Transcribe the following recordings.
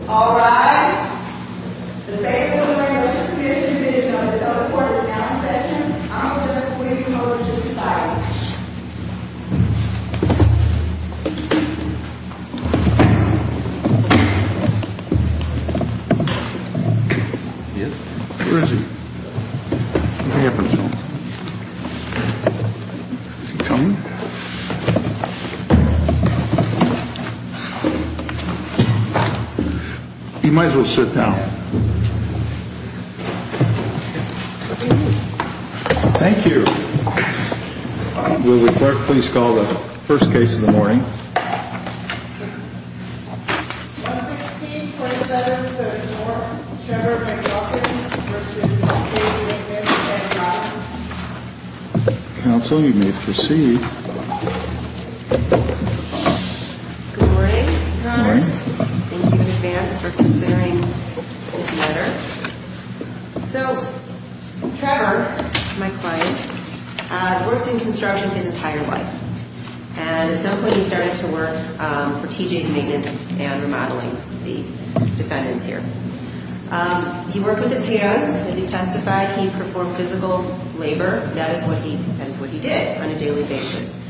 Alright, the State Board of Land Registration Comm'n is now in session. I'm going to just leave you over to the sidelines. Yes? Where is he? Is he coming? He might as well sit down. Thank you. Will the clerk please call the first case of the morning? Counsel, you may proceed. Good morning. Good morning. Thank you in advance for considering this matter. So, Trevor, my client, worked in construction his entire life. And at some point he started to work for TJ's Maintenance and Remodeling, the defendants here. He worked with his hands. As he testified, he performed physical labor. That is what he did on a daily basis.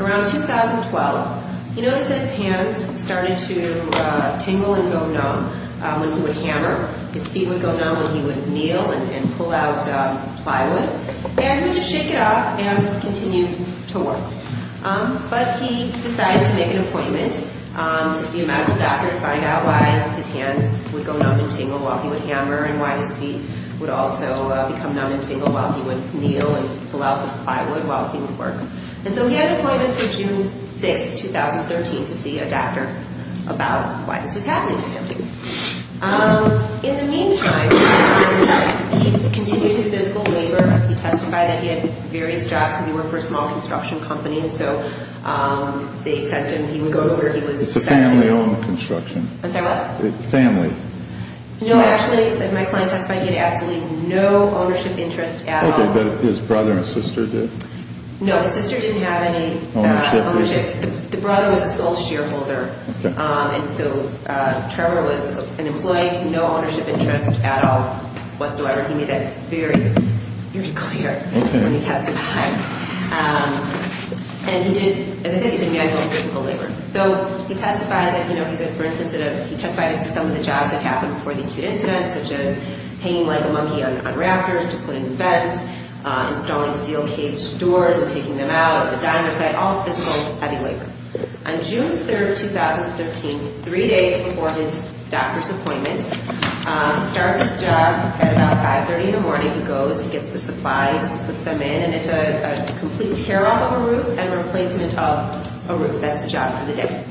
Around 2012, he noticed that his hands started to tingle and go numb when he would hammer. His feet would go numb when he would kneel and pull out plywood. And he would just shake it off and continue to work. But he decided to make an appointment to see a medical doctor to find out why his hands would go numb and tingle while he would hammer and why his feet would also become numb and tingle while he would kneel and pull out the plywood while he would work. And so he had an appointment for June 6, 2013 to see a doctor about why this was happening to him. In the meantime, he continued his physical labor. He testified that he had various jobs because he worked for a small construction company. And so they sent him. He would go to where he was sent to. It's a family-owned construction. I'm sorry, what? Family. No, actually, as my client testified, he had absolutely no ownership interest at all. Okay, but his brother and sister did? No, his sister didn't have any ownership. The brother was a sole shareholder. Okay. And so Trevor was an employee, no ownership interest at all whatsoever. He made that very, very clear when he testified. Okay. And he did, as I said, he did manual physical labor. So he testified that, you know, he said, for instance, that he testified as to some of the jobs that happened before the acute incident, such as hanging like a monkey on rafters to put in vents, installing steel cage doors and taking them out at the diner site, all physical heavy labor. On June 3rd, 2013, three days before his doctor's appointment, he starts his job at about 530 in the morning. He goes, he gets the supplies, he puts them in, and it's a complete tear-off of a roof and replacement of a roof. That's the job for the day.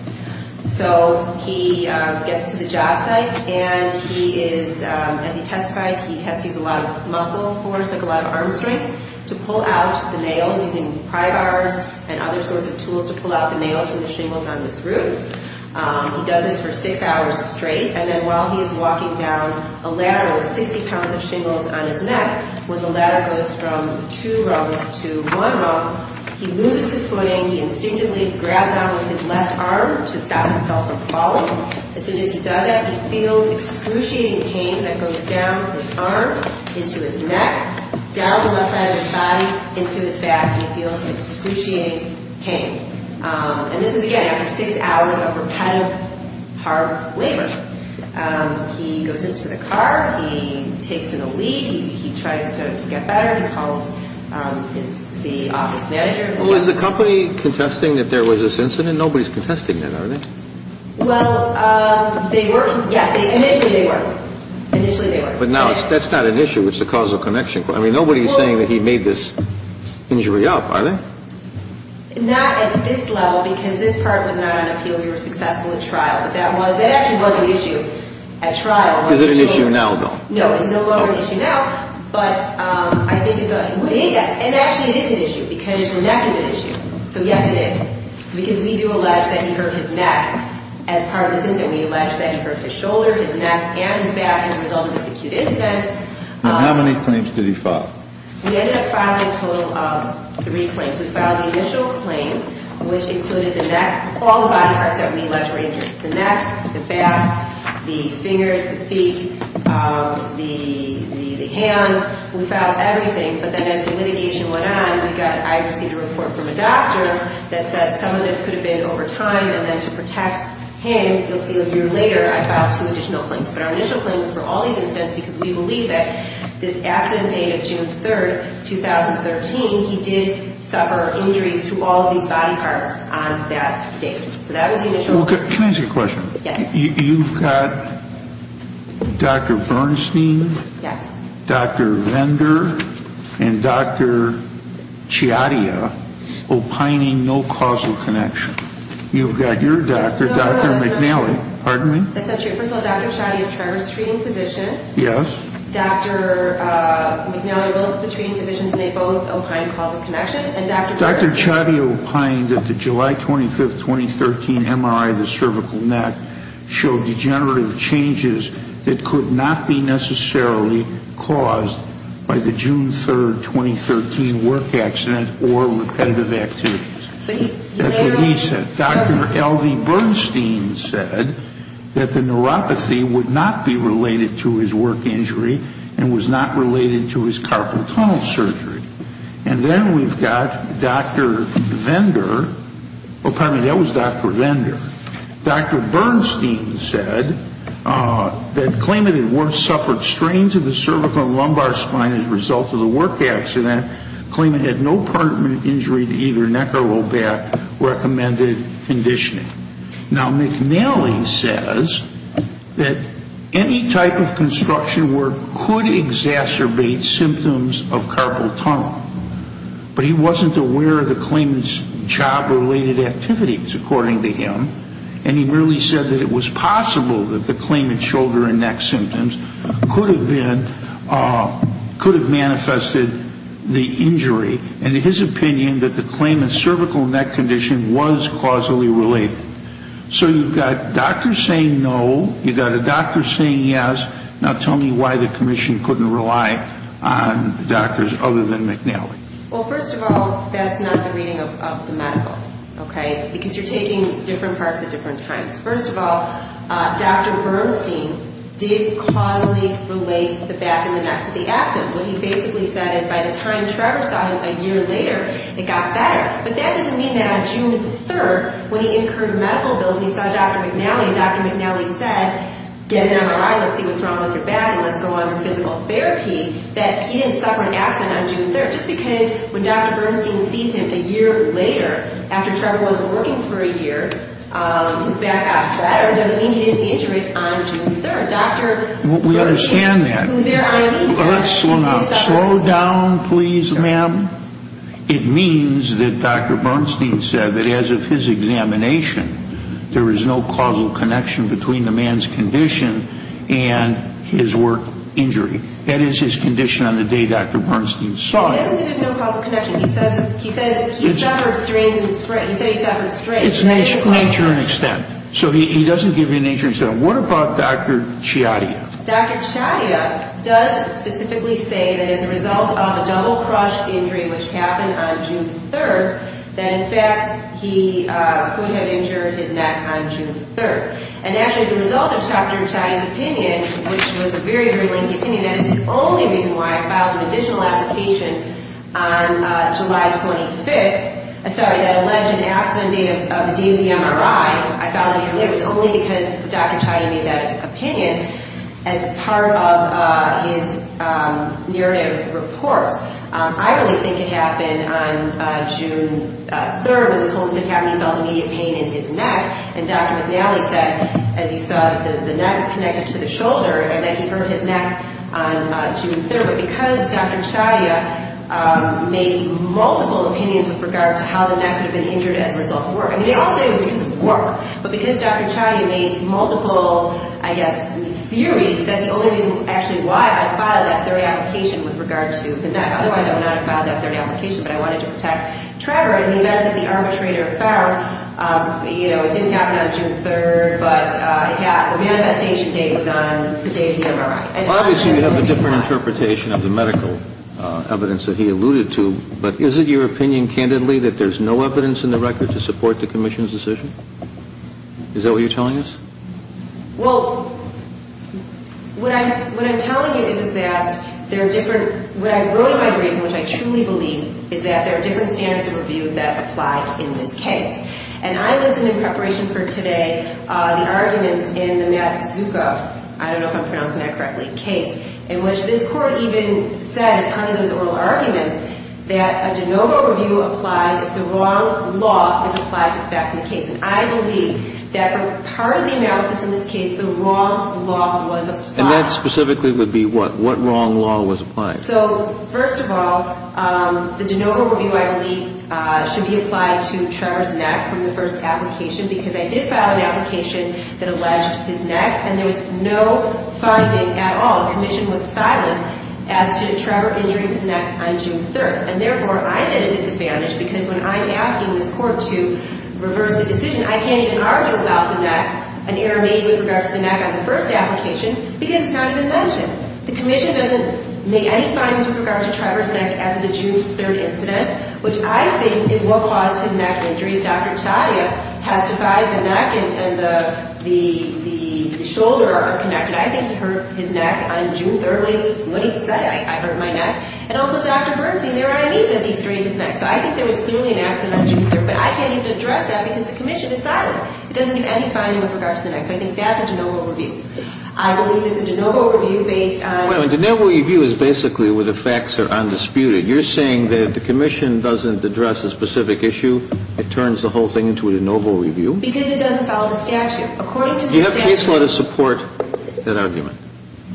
So he gets to the job site, and he is, as he testifies, he has to use a lot of muscle force, like a lot of arm strength, to pull out the nails, using pry bars and other sorts of tools to pull out the nails from the shingles on this roof. He does this for six hours straight, and then while he is walking down a ladder with 60 pounds of shingles on his neck, when the ladder goes from two rungs to one rung, he loses his footing. He instinctively grabs on with his left arm to stop himself from falling. As soon as he does it, he feels excruciating pain that goes down his arm, into his neck, down the left side of his body, into his back, and he feels excruciating pain. And this is, again, after six hours of repetitive, hard labor. He goes into the car. He takes in a lead. He tries to get better. He calls the office manager. Well, is the company contesting that there was this incident? Nobody's contesting that, are they? Well, they were. Yes, initially, they were. Initially, they were. But now, that's not an issue. It's a causal connection. I mean, nobody's saying that he made this injury up, are they? Not at this level, because this part was not on appeal. We were successful in trial. But that actually was an issue at trial. Is it an issue now, though? No, it's no longer an issue now. But I think it's a big issue. And actually, it is an issue, because the neck is an issue. So, yes, it is. Because we do allege that he hurt his neck as part of this incident. We allege that he hurt his shoulder, his neck, and his back as a result of this acute incident. And how many claims did he file? We ended up filing a total of three claims. We filed the initial claim, which included the neck, all the body parts that we allege were injured. The neck, the back, the fingers, the feet, the hands. We filed everything. But then as the litigation went on, I received a report from a doctor that said some of this could have been over time. And then to protect him, you'll see a year later, I filed two additional claims. But our initial claim was for all these incidents because we believe that this accident date of June 3rd, 2013, he did suffer injuries to all of these body parts on that date. So that was the initial claim. Can I ask you a question? Yes. You've got Dr. Bernstein, Dr. Vendor, and Dr. Ciattia opining no causal connection. You've got your doctor, Dr. McNally. Pardon me? First of all, Dr. Ciattia is Trevor's treating physician. Yes. Dr. McNally, both the treating physicians, and they both opine causal connection. Dr. Ciattia opined that the July 25th, 2013 MRI of the cervical neck showed degenerative changes that could not be necessarily caused by the June 3rd, 2013 work accident or repetitive activities. That's what he said. Dr. L.V. Bernstein said that the neuropathy would not be related to his work injury and was not related to his carpal tunnel surgery. And then we've got Dr. Vendor. Pardon me, that was Dr. Vendor. Dr. Bernstein said that claiming that he suffered strains of the cervical and lumbar spine as a result of the work accident, claiming he had no permanent injury to either neck or low back, recommended conditioning. Now, McNally says that any type of construction work could exacerbate symptoms of carpal tunnel, but he wasn't aware of the claimant's job-related activities, according to him, and he merely said that it was possible that the claimant's shoulder and neck symptoms could have been, could have manifested the injury, and his opinion that the claimant's cervical neck condition was causally related. So you've got doctors saying no. You've got a doctor saying yes. Now, tell me why the commission couldn't rely on doctors other than McNally. Well, first of all, that's not the reading of the medical, okay, because you're taking different parts at different times. First of all, Dr. Bernstein did causally relate the back and the neck to the accident. What he basically said is by the time Trevor saw him a year later, it got better. But that doesn't mean that on June 3rd, when he incurred medical bills and he saw Dr. McNally, Dr. McNally said, get an MRI, let's see what's wrong with your back, and let's go on for physical therapy, that he didn't suffer an accident on June 3rd, just because when Dr. Bernstein sees him a year later, after Trevor wasn't working for a year, his back got better doesn't mean he didn't injure it on June 3rd. We understand that. Let's slow down. Slow down, please, ma'am. It means that Dr. Bernstein said that as of his examination, there is no causal connection between the man's condition and his work injury. That is his condition on the day Dr. Bernstein saw him. He doesn't say there's no causal connection. He said he suffered strains and sprains. He said he suffered strains. It's nature and extent. So he doesn't give you nature and extent. What about Dr. Chiatia? Dr. Chiatia does specifically say that as a result of a double-crush injury, which happened on June 3rd, that in fact he could have injured his neck on June 3rd. And actually as a result of Dr. Chiatia's opinion, which was a very, very lengthy opinion, that is the only reason why I filed an additional application on July 25th. Sorry, that alleged accident date of the DMV MRI. I found it here. It was only because Dr. Chiatia made that opinion as part of his narrative report. I really think it happened on June 3rd when this whole thing happened. He felt immediate pain in his neck. And Dr. McNally said, as you saw, that the neck is connected to the shoulder and that he hurt his neck on June 3rd. But because Dr. Chiatia made multiple opinions with regard to how the neck could have been injured as a result of work, I mean, they all say it was because of work. But because Dr. Chiatia made multiple, I guess, theories, that's the only reason actually why I filed that third application with regard to the neck. Otherwise I would not have filed that third application, but I wanted to protect Trevor. And the event that the arbitrator found, you know, it didn't happen on June 3rd, but, yeah, the manifestation date was on the day of the MRI. Obviously you have a different interpretation of the medical evidence that he alluded to, but is it your opinion, candidly, that there's no evidence in the record to support the commission's decision? Is that what you're telling us? Well, what I'm telling you is that there are different – what I wrote in my brief, which I truly believe, is that there are different standards of review that apply in this case. And I listened in preparation for today the arguments in the Maddox-Zuko – I don't know if I'm pronouncing that correctly – case, in which this Court even says, under those oral arguments, that a de novo review applies if the wrong law is applied to the facts in the case. And I believe that part of the analysis in this case, the wrong law was applied. And that specifically would be what? What wrong law was applied? So, first of all, the de novo review, I believe, should be applied to Trevor's neck from the first application, because I did file an application that alleged his neck, and there was no finding at all – the commission was silent – as to Trevor injuring his neck on June 3rd. And, therefore, I'm at a disadvantage, because when I'm asking this Court to reverse the decision, I can't even argue about the neck, an error made with regard to the neck on the first application, because it's not even mentioned. The commission doesn't make any findings with regard to Trevor's neck as of the June 3rd incident, which I think is what caused his neck injuries. Dr. Chaya testified the neck and the shoulder are connected. I think he hurt his neck on June 3rd. At least, what he said, I hurt my neck. And also, Dr. Bernstein, their I.D., says he strained his neck. So I think there was clearly an accident on June 3rd. But I can't even address that, because the commission is silent. It doesn't give any finding with regard to the neck. So I think that's a de novo review. I believe it's a de novo review based on the facts. Wait a minute. De novo review is basically where the facts are undisputed. You're saying that if the commission doesn't address a specific issue, it turns the whole thing into a de novo review? Because it doesn't follow the statute. According to the statute. Do you have case law to support that argument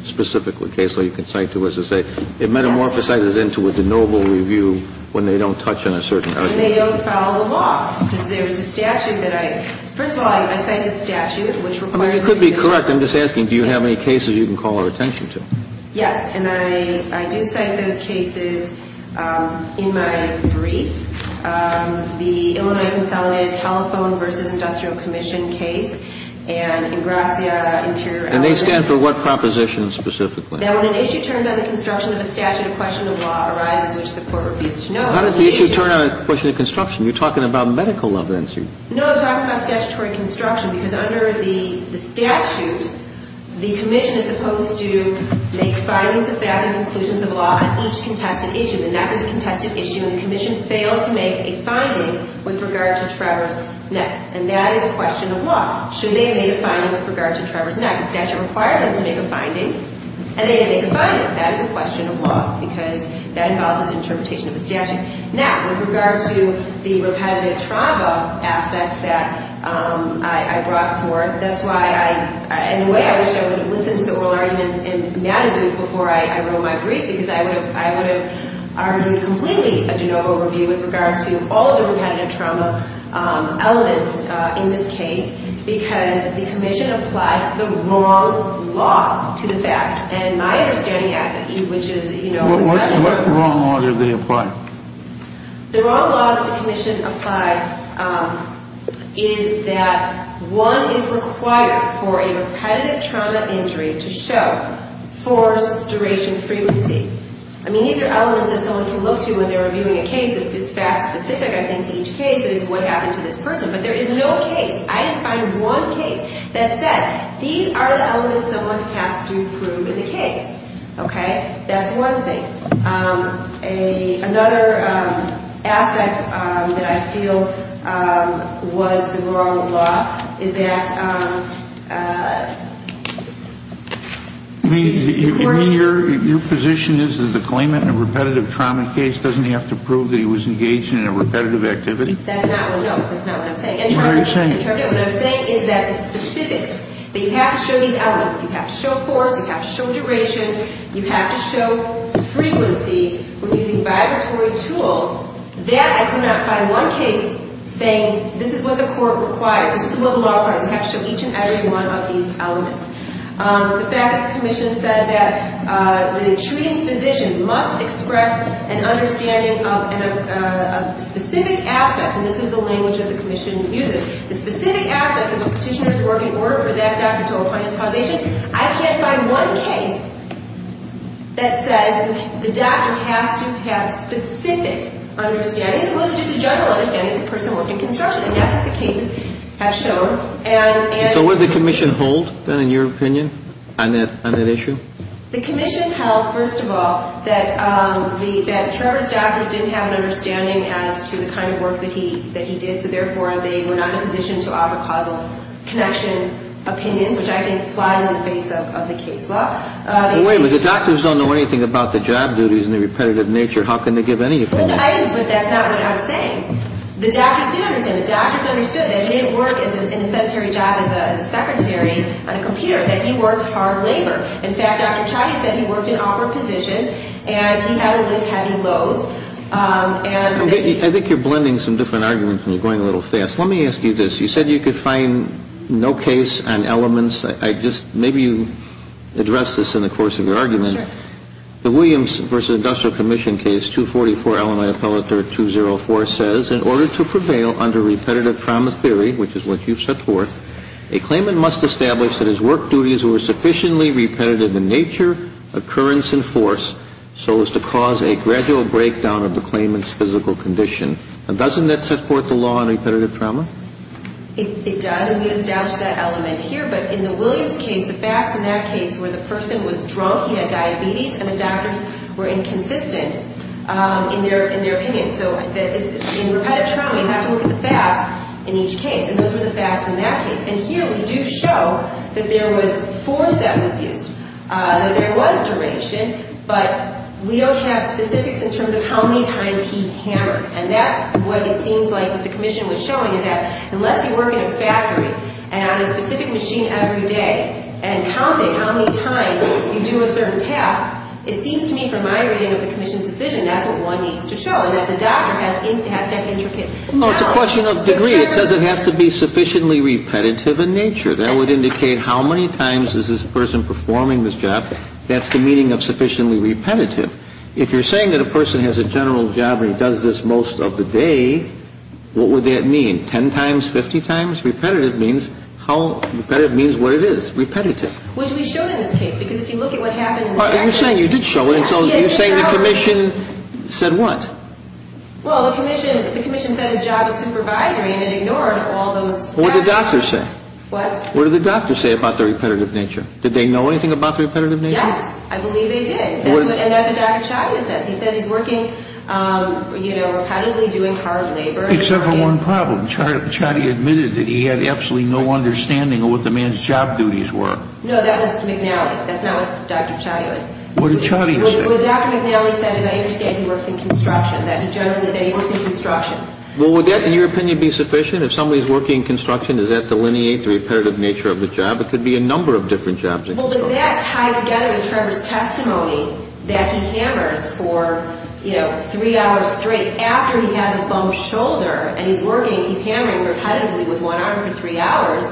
specifically? Case law you can cite to us to say it metamorphosizes into a de novo review when they don't touch on a certain argument. And they don't follow the law, because there is a statute that I – first of all, I cite the statute, which requires a de novo review. That could be correct. I'm just asking, do you have any cases you can call our attention to? Yes. And I do cite those cases in my brief. The Illinois Consolidated Telephone v. Industrial Commission case and Ingrassia Interior – And they stand for what proposition specifically? That when an issue turns on the construction of a statute of question of law arises which the court refused to note – How does the issue turn on a question of construction? You're talking about medical evidence here. No, I'm talking about statutory construction. Because under the statute, the commission is supposed to make findings of fact and conclusions of law on each contested issue. And that was a contested issue, and the commission failed to make a finding with regard to Trevor's neck. And that is a question of law. Should they make a finding with regard to Trevor's neck? The statute requires them to make a finding, and they didn't make a finding. That is a question of law, because that involves an interpretation of a statute. Now, with regard to the repetitive trauma aspects that I brought forth, that's why I – In a way, I wish I would have listened to the oral arguments in Madison before I wrote my brief, because I would have argued completely a de novo review with regard to all of the repetitive trauma elements in this case, because the commission applied the wrong law to the facts. And my understanding, which is – What wrong laws did they apply? The wrong laws the commission applied is that one is required for a repetitive trauma injury to show force, duration, frequency. I mean, these are elements that someone can look to when they're reviewing a case. It's fact-specific, I think, to each case. It is what happened to this person. But there is no case. I didn't find one case that says these are the elements someone has to prove in the case. Okay? That's one thing. Another aspect that I feel was the wrong law is that – I mean, your position is that the claimant in a repetitive trauma case doesn't have to prove that he was engaged in a repetitive activity? That's not – well, no, that's not what I'm saying. What are you saying? What I'm saying is that the specifics – that you have to show these elements. You have to show force. You have to show duration. You have to show frequency when using vibratory tools. That I could not find. One case saying this is what the court requires. This is what the law requires. You have to show each and every one of these elements. The fact that the commission said that the treating physician must express an understanding of specific aspects – and this is the language that the commission uses – specific aspects of a petitioner's work in order for that doctor to appoint his causation, I can't find one case that says the doctor has to have specific understanding, as opposed to just a general understanding if the person worked in construction. And that's what the cases have shown. So what does the commission hold, then, in your opinion on that issue? The commission held, first of all, that Trevor's doctors didn't have an understanding as to the kind of work that he did, so therefore they were not in a position to offer causal connection opinions, which I think flies in the face of the case law. Wait a minute. The doctors don't know anything about the job duties and the repetitive nature. How can they give any opinion? But that's not what I'm saying. The doctors did understand. The doctors understood that he didn't work in a sedentary job as a secretary on a computer, that he worked hard labor. In fact, Dr. Pachadi said he worked in awkward positions and he had to lift heavy loads. I think you're blending some different arguments and you're going a little fast. Let me ask you this. You said you could find no case on elements. Maybe you address this in the course of your argument. Sure. The Williams v. Industrial Commission case, 244, Illinois Appellate Dirt 204 says, in order to prevail under repetitive promise theory, which is what you've set forth, a claimant must establish that his work duties were sufficiently repetitive in nature, occurrence, and force so as to cause a gradual breakdown of the claimant's physical condition. And doesn't that set forth the law on repetitive trauma? It does, and we established that element here. But in the Williams case, the facts in that case were the person was drunk, he had diabetes, and the doctors were inconsistent in their opinion. So in repetitive trauma, you have to look at the facts in each case. And those were the facts in that case. And here we do show that there was force that was used. There was duration. But we don't have specifics in terms of how many times he hammered. And that's what it seems like what the commission was showing, is that unless you work in a factory and on a specific machine every day and counting how many times you do a certain task, it seems to me from my reading of the commission's decision that's what one needs to show, and that the doctor has to have intricate knowledge. No, it's a question of degree. It says it has to be sufficiently repetitive in nature. That would indicate how many times is this person performing this job. That's the meaning of sufficiently repetitive. If you're saying that a person has a general job and he does this most of the day, what would that mean? Ten times, 50 times? Repetitive means what it is. Repetitive. Which we showed in this case. Because if you look at what happened in the factory. You did show it. You're saying the commission said what? Well, the commission said his job was supervisory and it ignored all those facts. What did the doctor say? What? What did the doctor say about the repetitive nature? Did they know anything about the repetitive nature? Yes. I believe they did. And that's what Dr. Chatty says. He says he's working, you know, repetitively, doing hard labor. Except for one problem. Chatty admitted that he had absolutely no understanding of what the man's job duties were. No, that was McNally. That's not what Dr. Chatty said. What did Chatty say? What Dr. McNally said is I understand he works in construction, that he generally works in construction. Well, would that, in your opinion, be sufficient? If somebody's working in construction, does that delineate the repetitive nature of the job? It could be a number of different jobs. Well, did that tie together with Trevor's testimony that he hammers for, you know, three hours straight after he has a bump shoulder and he's working, he's hammering repetitively with one arm for three hours,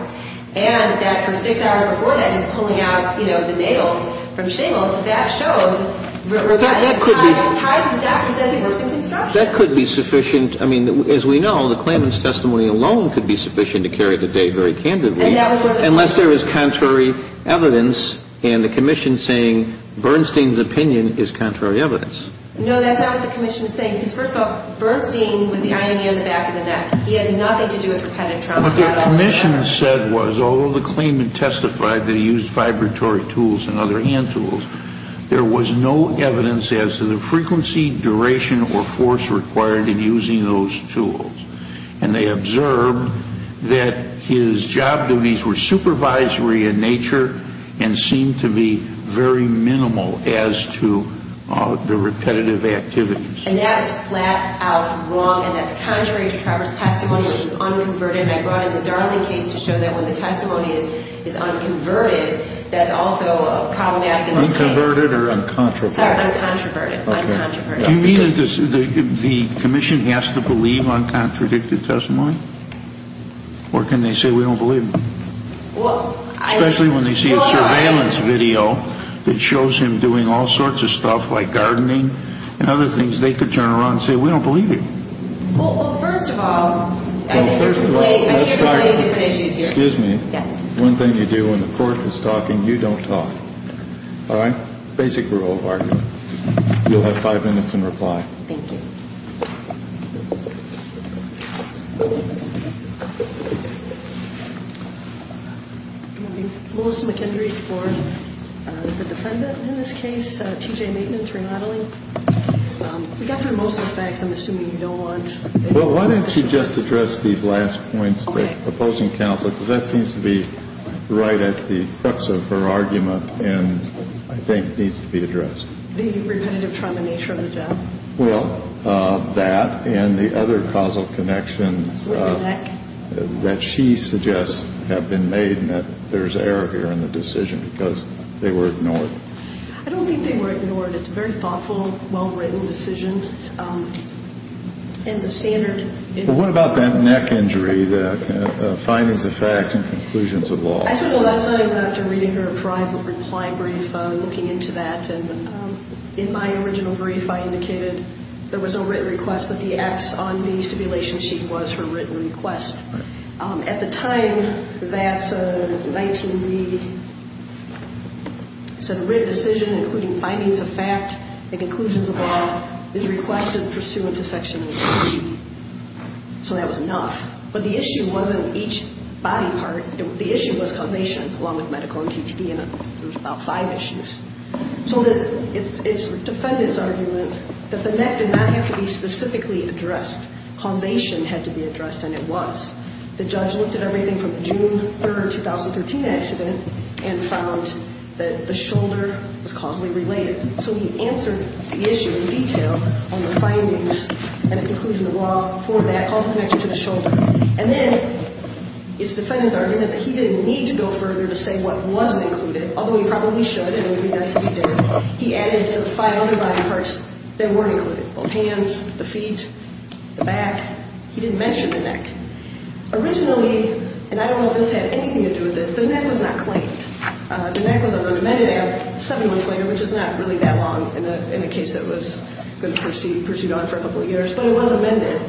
and that for six hours before that he's pulling out, you know, the nails from shingles, that that shows repetitive ties to the doctor who says he works in construction. That could be sufficient. I mean, as we know, the claimant's testimony alone could be sufficient to carry the day very candidly, unless there is contrary evidence and the commission saying Bernstein's opinion is contrary evidence. No, that's not what the commission is saying, because, first of all, Bernstein was the iron near the back of the neck. He has nothing to do with repetitive trauma. What the commission said was although the claimant testified that he used vibratory tools and other hand tools, there was no evidence as to the frequency, duration, or force required in using those tools. And they observed that his job duties were supervisory in nature and seemed to be very minimal as to the repetitive activities. And that is flat out wrong, and that's contrary to Trevor's testimony, which is unconverted, and I brought in the Darling case to show that when the testimony is unconverted, that's also a problematic case. Unconverted or uncontroverted? Sorry, uncontroverted. Uncontroverted. Do you mean that the commission has to believe uncontradicted testimony, or can they say we don't believe it, especially when they see a surveillance video that shows him doing all sorts of stuff like gardening and other things, they could turn around and say we don't believe it. Well, first of all, I think you're complaining. I hear you have many different issues here. Excuse me. Yes. One thing you do when the court is talking, you don't talk. All right? That's my basic rule of argument. You'll have five minutes in reply. Thank you. Melissa McKendry for the defendant in this case, T.J. Maitland, three-modeling. We got through most of the facts. I'm assuming you don't want any more questions. Well, why don't you just address these last points, the opposing counsel, because that seems to be right at the crux of her argument and I think needs to be addressed. The repetitive trimination of the death. Well, that and the other causal connections that she suggests have been made and that there's error here in the decision because they were ignored. I don't think they were ignored. It's a very thoughtful, well-written decision. And the standard in the court. Well, what about that neck injury, the findings of fact and conclusions of law? I said, well, that's not even after reading her private reply brief, looking into that. And in my original brief, I indicated there was a written request, but the X on the stipulation sheet was her written request. At the time, that's a 19B, it said, written decision including findings of fact and conclusions of law is requested pursuant to Section 18. So that was enough. But the issue wasn't each body part. The issue was causation along with medical and TTD, and there was about five issues. So it's the defendant's argument that the neck did not have to be specifically addressed. Causation had to be addressed, and it was. The judge looked at everything from the June 3, 2013 accident and found that the shoulder was causally related. So he answered the issue in detail on the findings and conclusions of law for that causal connection to the shoulder. And then it's the defendant's argument that he didn't need to go further to say what wasn't included, although he probably should, and it would be nice if he did. He added to the five other body parts that weren't included, both hands, the feet, the back. He didn't mention the neck. Originally, and I don't know if this had anything to do with it, the neck was not claimed. The neck was an unamended act seven months later, which is not really that long in a case that was going to proceed on for a couple of years, but it was amended.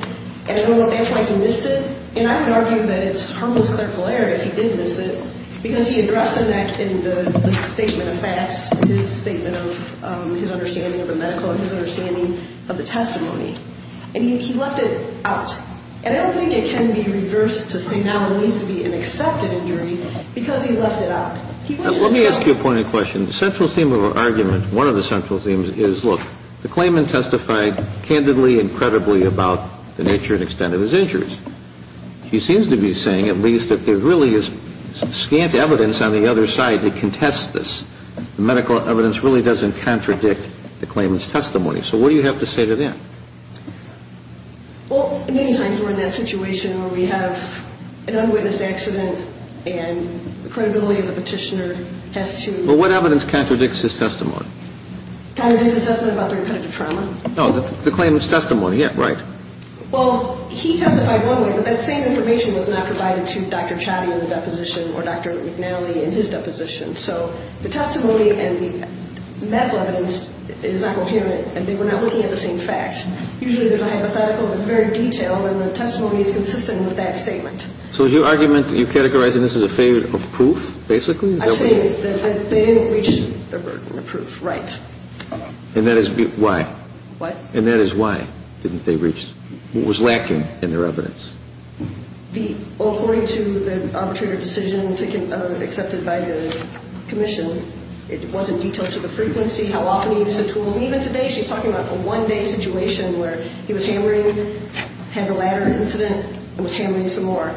And I don't know if that's why he missed it. And I would argue that it's harmless clerical error if he did miss it, because he addressed the neck in the statement of facts, his statement of his understanding of the medical and his understanding of the testimony. And he left it out. And I don't think it can be reversed to say now it needs to be an accepted injury because he left it out. He went to the judge. Let me ask you a pointed question. The central theme of our argument, one of the central themes, is, look, the claimant testified candidly and credibly about the nature and extent of his injuries. He seems to be saying, at least, that there really is scant evidence on the other side to contest this. The medical evidence really doesn't contradict the claimant's testimony. So what do you have to say to that? Well, many times we're in that situation where we have an unwitnessed accident and the credibility of the petitioner has to... But what evidence contradicts his testimony? Contradicts the testimony about the incident of trauma? No, the claimant's testimony. Yeah, right. Well, he testified one way, but that same information was not provided to Dr. Chatty in the deposition or Dr. McNally in his deposition. So the testimony and the medical evidence is not coherent, and they were not looking at the same facts. Usually there's a hypothetical that's very detailed, and the testimony is consistent with that statement. So is your argument that you're categorizing this as a failure of proof, basically? I'm saying that they didn't reach the proof right. And that is why? What? And that is why it was lacking in their evidence? Well, according to the arbitrator decision accepted by the commission, it was in detail to the frequency, how often he used the tools, and even today she's talking about a one-day situation where he was hammering, had the latter incident, and was hammering some more.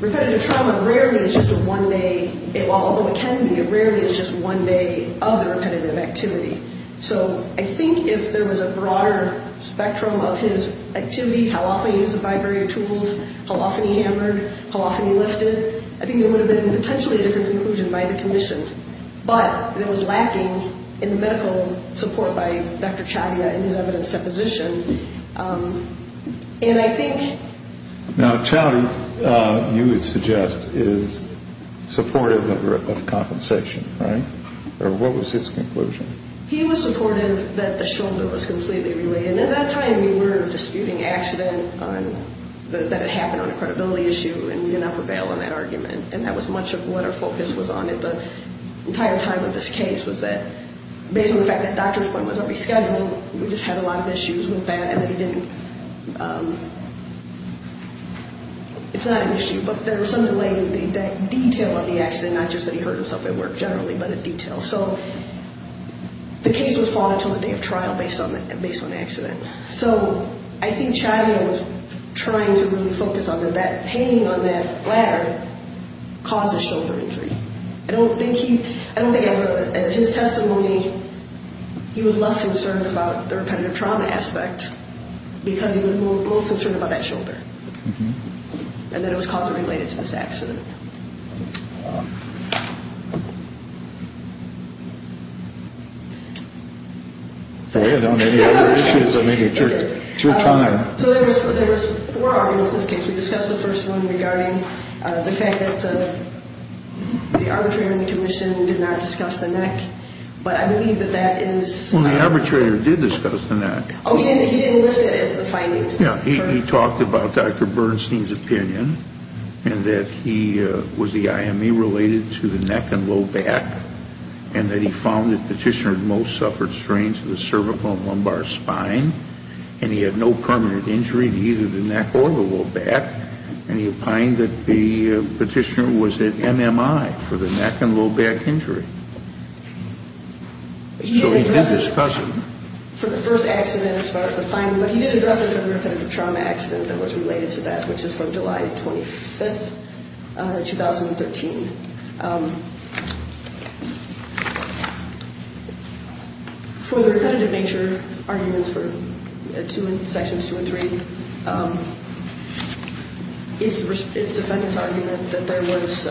Repetitive trauma rarely is just a one-day, although it can be, it rarely is just one day of the repetitive activity. So I think if there was a broader spectrum of his activities, how often he used the vibrator tools, how often he hammered, how often he lifted, I think it would have been potentially a different conclusion by the commission. But it was lacking in the medical support by Dr. Chatty in his evidence deposition. And I think... Now, Chatty, you would suggest, is supportive of compensation, right? Or what was his conclusion? He was supportive that the shoulder was completely relayed. And at that time, we were disputing accident that had happened on a credibility issue, and we did not prevail on that argument. And that was much of what our focus was on at the entire time of this case, was that based on the fact that Dr. Quinn was not rescheduling, we just had a lot of issues with that, and that he didn't... It's not an issue, but there was some delay in the detail of the accident, not just that he hurt himself at work generally, but in detail. So the case was fought until the day of trial based on the accident. So I think Chatty was trying to really focus on that that pain on that ladder caused the shoulder injury. I don't think he... I don't think as a... In his testimony, he was less concerned about the repetitive trauma aspect because he was most concerned about that shoulder, and that it was causally related to this accident. For you, there may be other issues, or maybe it's your time. So there was four arguments in this case. We discussed the first one regarding the fact that the arbitrator in the commission did not discuss the neck, but I believe that that is... Well, the arbitrator did discuss the neck. Oh, he didn't list it as the findings. Yeah, he talked about Dr. Bernstein's opinion, and that he was the IME related to the neck and low back, and that he found that Petitioner most suffered strains to the cervical and lumbar spine, and he had no permanent injury to either the neck or the low back, and he opined that the Petitioner was at MMI for the neck and low back injury. So he did discuss it. For the first accident as far as the finding, but he did address it as a repetitive trauma accident that was related to that, which is from July 25th, 2013. For the repetitive nature arguments for Sections 2 and 3, it's the defendant's argument that there was...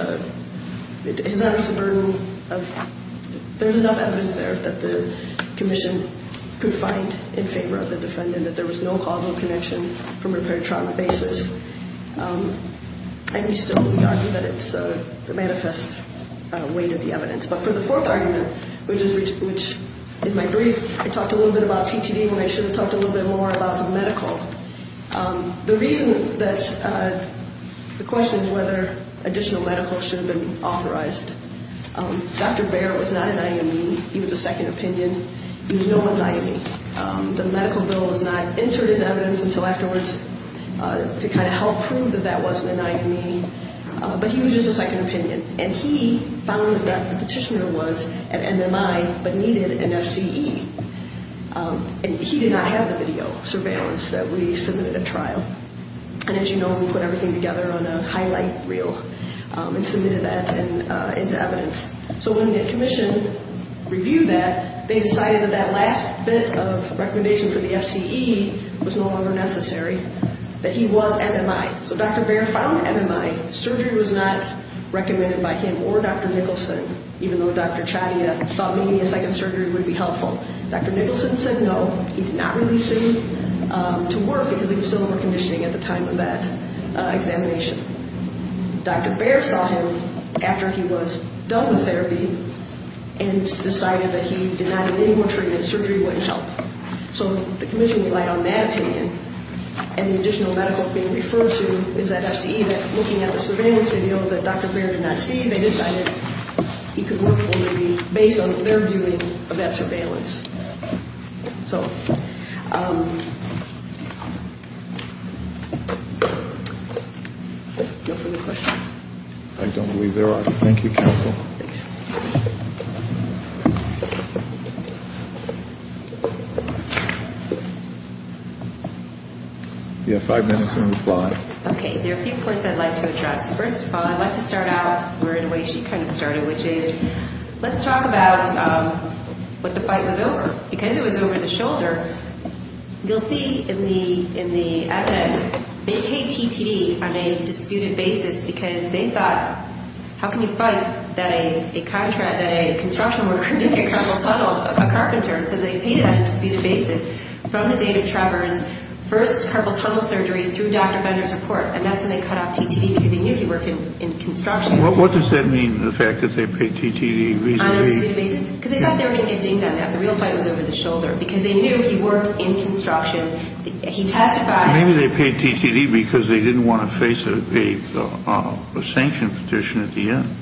His artist's burden of... There's enough evidence there that the commission could find in favor of the defendant that there was no causal connection from a repetitive trauma basis, and we still argue that it's a manifest weight of the evidence. But for the fourth argument, which in my brief I talked a little bit about TTD when I should have talked a little bit more about the medical, the reason that... The question is whether additional medical should have been authorized. Dr. Baer was not an IME. He was a second opinion. He was no an IME. The medical bill was not entered into evidence until afterwards to kind of help prove that that wasn't an IME. But he was just a second opinion, and he found that the petitioner was an MMI but needed an FCE. And he did not have the video surveillance that we submitted at trial. And as you know, we put everything together on a highlight reel and submitted that into evidence. So when the commission reviewed that, they decided that that last bit of recommendation for the FCE was no longer necessary. That he was MMI. So Dr. Baer found MMI. Surgery was not recommended by him or Dr. Nicholson, even though Dr. Chadia thought maybe a second surgery would be helpful. Dr. Nicholson said no. He did not release him to work because he was still under conditioning at the time of that examination. Dr. Baer saw him after he was done with therapy and decided that he did not need any more treatment. Surgery wouldn't help. So the commission relied on that opinion, and the additional medical opinion referred to is that FCE, that looking at the surveillance video that Dr. Baer did not see, they decided he could work for them based on their viewing of that surveillance. So no further questions? I don't believe there are. Thank you, counsel. Thanks. You have five minutes in reply. Okay. There are a few points I'd like to address. First of all, I'd like to start out where in a way she kind of started, which is let's talk about what the fight was over. Because it was over the shoulder, you'll see in the evidence, they paid TTD on a disputed basis because they thought, how can you fight that a construction worker did a carpenter and so they paid it on a disputed basis from the date of Trevor's first carpal tunnel surgery through Dr. Baer's report, and that's when they cut off TTD because they knew he worked in construction. What does that mean, the fact that they paid TTD reasonably? On a disputed basis? Because they thought they were going to get dinged on that. The real fight was over the shoulder because they knew he worked in construction. He testified. Maybe they paid TTD because they didn't want to face a sanction petition at the end.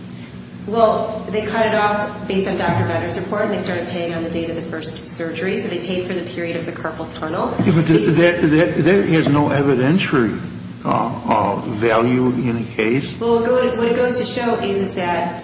Well, they cut it off based on Dr. Baer's report and they started paying on the date of the first surgery, so they paid for the period of the carpal tunnel. That has no evidentiary value in a case. Well, what it goes to show is that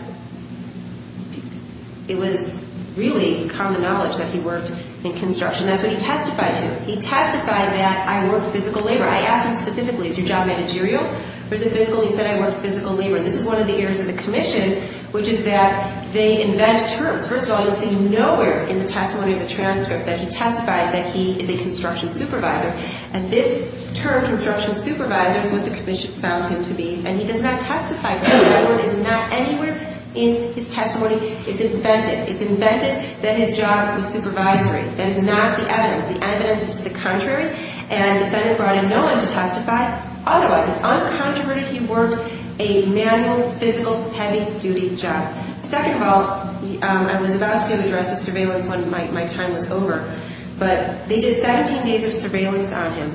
it was really common knowledge that he worked in construction. That's what he testified to. He testified that I worked physical labor. I asked him specifically, is your job managerial or is it physical? He said I worked physical labor. This is one of the errors of the commission, which is that they invent terms. First of all, you see nowhere in the testimony of the transcript that he testified that he is a construction supervisor, and this term, construction supervisor, is what the commission found him to be, and he does not testify to that. That word is not anywhere in his testimony. It's invented. It's invented that his job was supervisory. That is not the evidence. The evidence is to the contrary, and the defendant brought in no one to testify. Otherwise, it's uncontroverted he worked a manual, physical, heavy-duty job. Second of all, I was about to address the surveillance when my time was over, but they did 17 days of surveillance on him.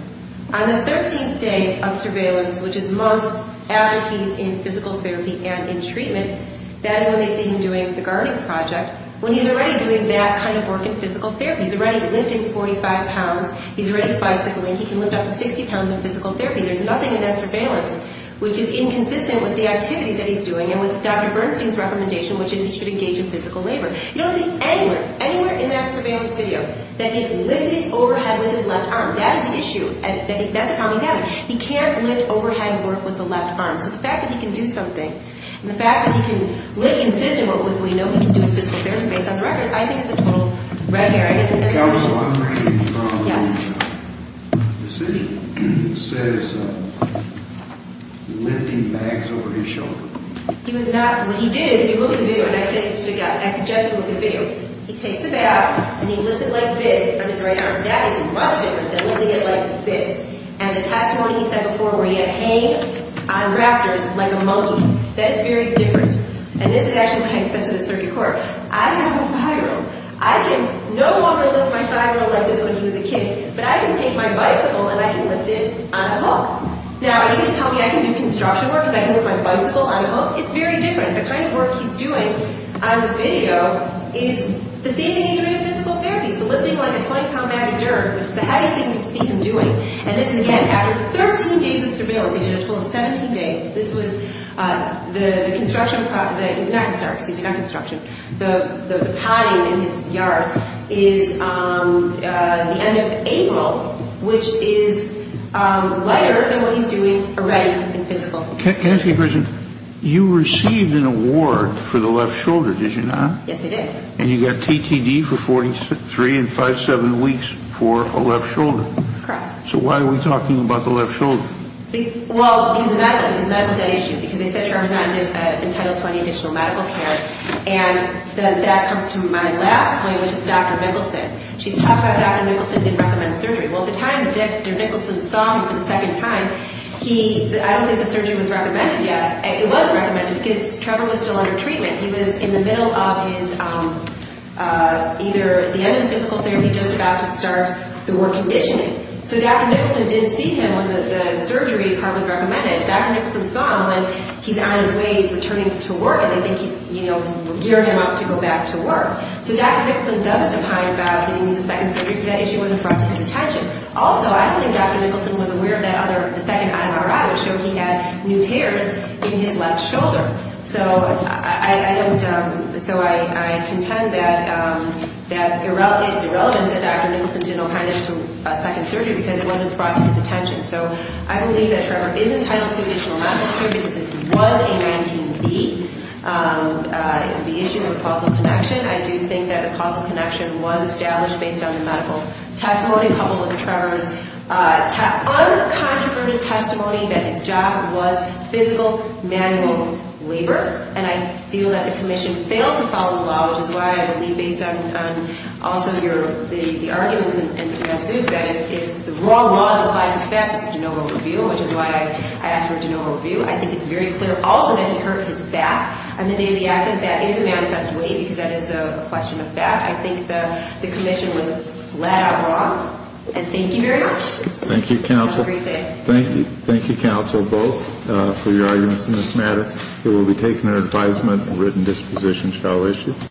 On the 13th day of surveillance, which is months after he's in physical therapy and in treatment, that is when they see him doing the guarding project, when he's already doing that kind of work in physical therapy. He's already lifting 45 pounds. He's already bicycling. He can lift up to 60 pounds in physical therapy. There's nothing in that surveillance, which is inconsistent with the activities that he's doing and with Dr. Bernstein's recommendation, which is he should engage in physical labor. You don't see anywhere, anywhere in that surveillance video that he's lifting overhead with his left arm. That is the issue. That's a problem he's having. He can't lift overhead work with the left arm. So the fact that he can do something and the fact that he can lift consistently, what we know he can do in physical therapy based on the records, I think is a total red herring. Yes. He was not. What he did is, if you look at the video, and I suggest you look at the video, he takes a bath and he lifts it like this on his right arm. That is Russian. And he did it like this. And the testimony he said before where he had hay on rafters like a monkey, that is very different. And this is actually what he had said to the circuit court. I have a viral. I can no longer lift my thigh or leg like this when he was a kid, but I can take my bicycle and I can lift it on a hook. Now, are you going to tell me I can do construction work because I can lift my bicycle on a hook? It's very different. The kind of work he's doing on the video is the same thing he's doing in physical therapy, so lifting like a 20-pound bag of dirt, which is the heaviest thing you've seen him doing. And this is, again, after 13 days of surveillance. He did a total of 17 days. The construction, not construction, the potting in his yard is the end of April, which is lighter than what he's doing already in physical. Can I ask you a question? You received an award for the left shoulder, did you not? Yes, I did. And you got TTD for 43 and 5-7 weeks for a left shoulder. Correct. So why are we talking about the left shoulder? Well, because of medical, because medical's an issue, because they said Charm's not entitled to any additional medical care. And that comes to my last point, which is Dr. Nicholson. She's talking about Dr. Nicholson didn't recommend surgery. Well, at the time, Dr. Nicholson saw him for the second time. I don't think the surgery was recommended yet. It wasn't recommended because Trevor was still under treatment. He was in the middle of his either the end of physical therapy, just about to start the work conditioning. So Dr. Nicholson did see him when the surgery part was recommended. Dr. Nicholson saw him when he's on his way returning to work, and they think he's, you know, gearing him up to go back to work. So Dr. Nicholson doesn't opine about getting the second surgery because that issue wasn't brought to his attention. Also, I don't think Dr. Nicholson was aware of that other, the second MRI which showed he had new tears in his left shoulder. So I contend that it's irrelevant that Dr. Nicholson didn't opine as to a second surgery because it wasn't brought to his attention. So I believe that Trevor is entitled to additional medical care because this was a 19-B. It would be issued with causal connection. I do think that the causal connection was established based on the medical testimony, coupled with Trevor's uncontroverted testimony that his job was physical, manual labor. And I feel that the commission failed to follow the law, which is why I believe based on also the arguments in suit that if the raw laws apply to fats, it's a de novo review, which is why I asked for a de novo review. I think it's very clear also that he hurt his back on the day of the accident. That is a manifest way because that is a question of fat. I think the commission was flat out wrong. And thank you very much. Thank you, counsel. Have a great day. Thank you, counsel, both, for your arguments in this matter. It will be taken under advisement and written disposition shall issue.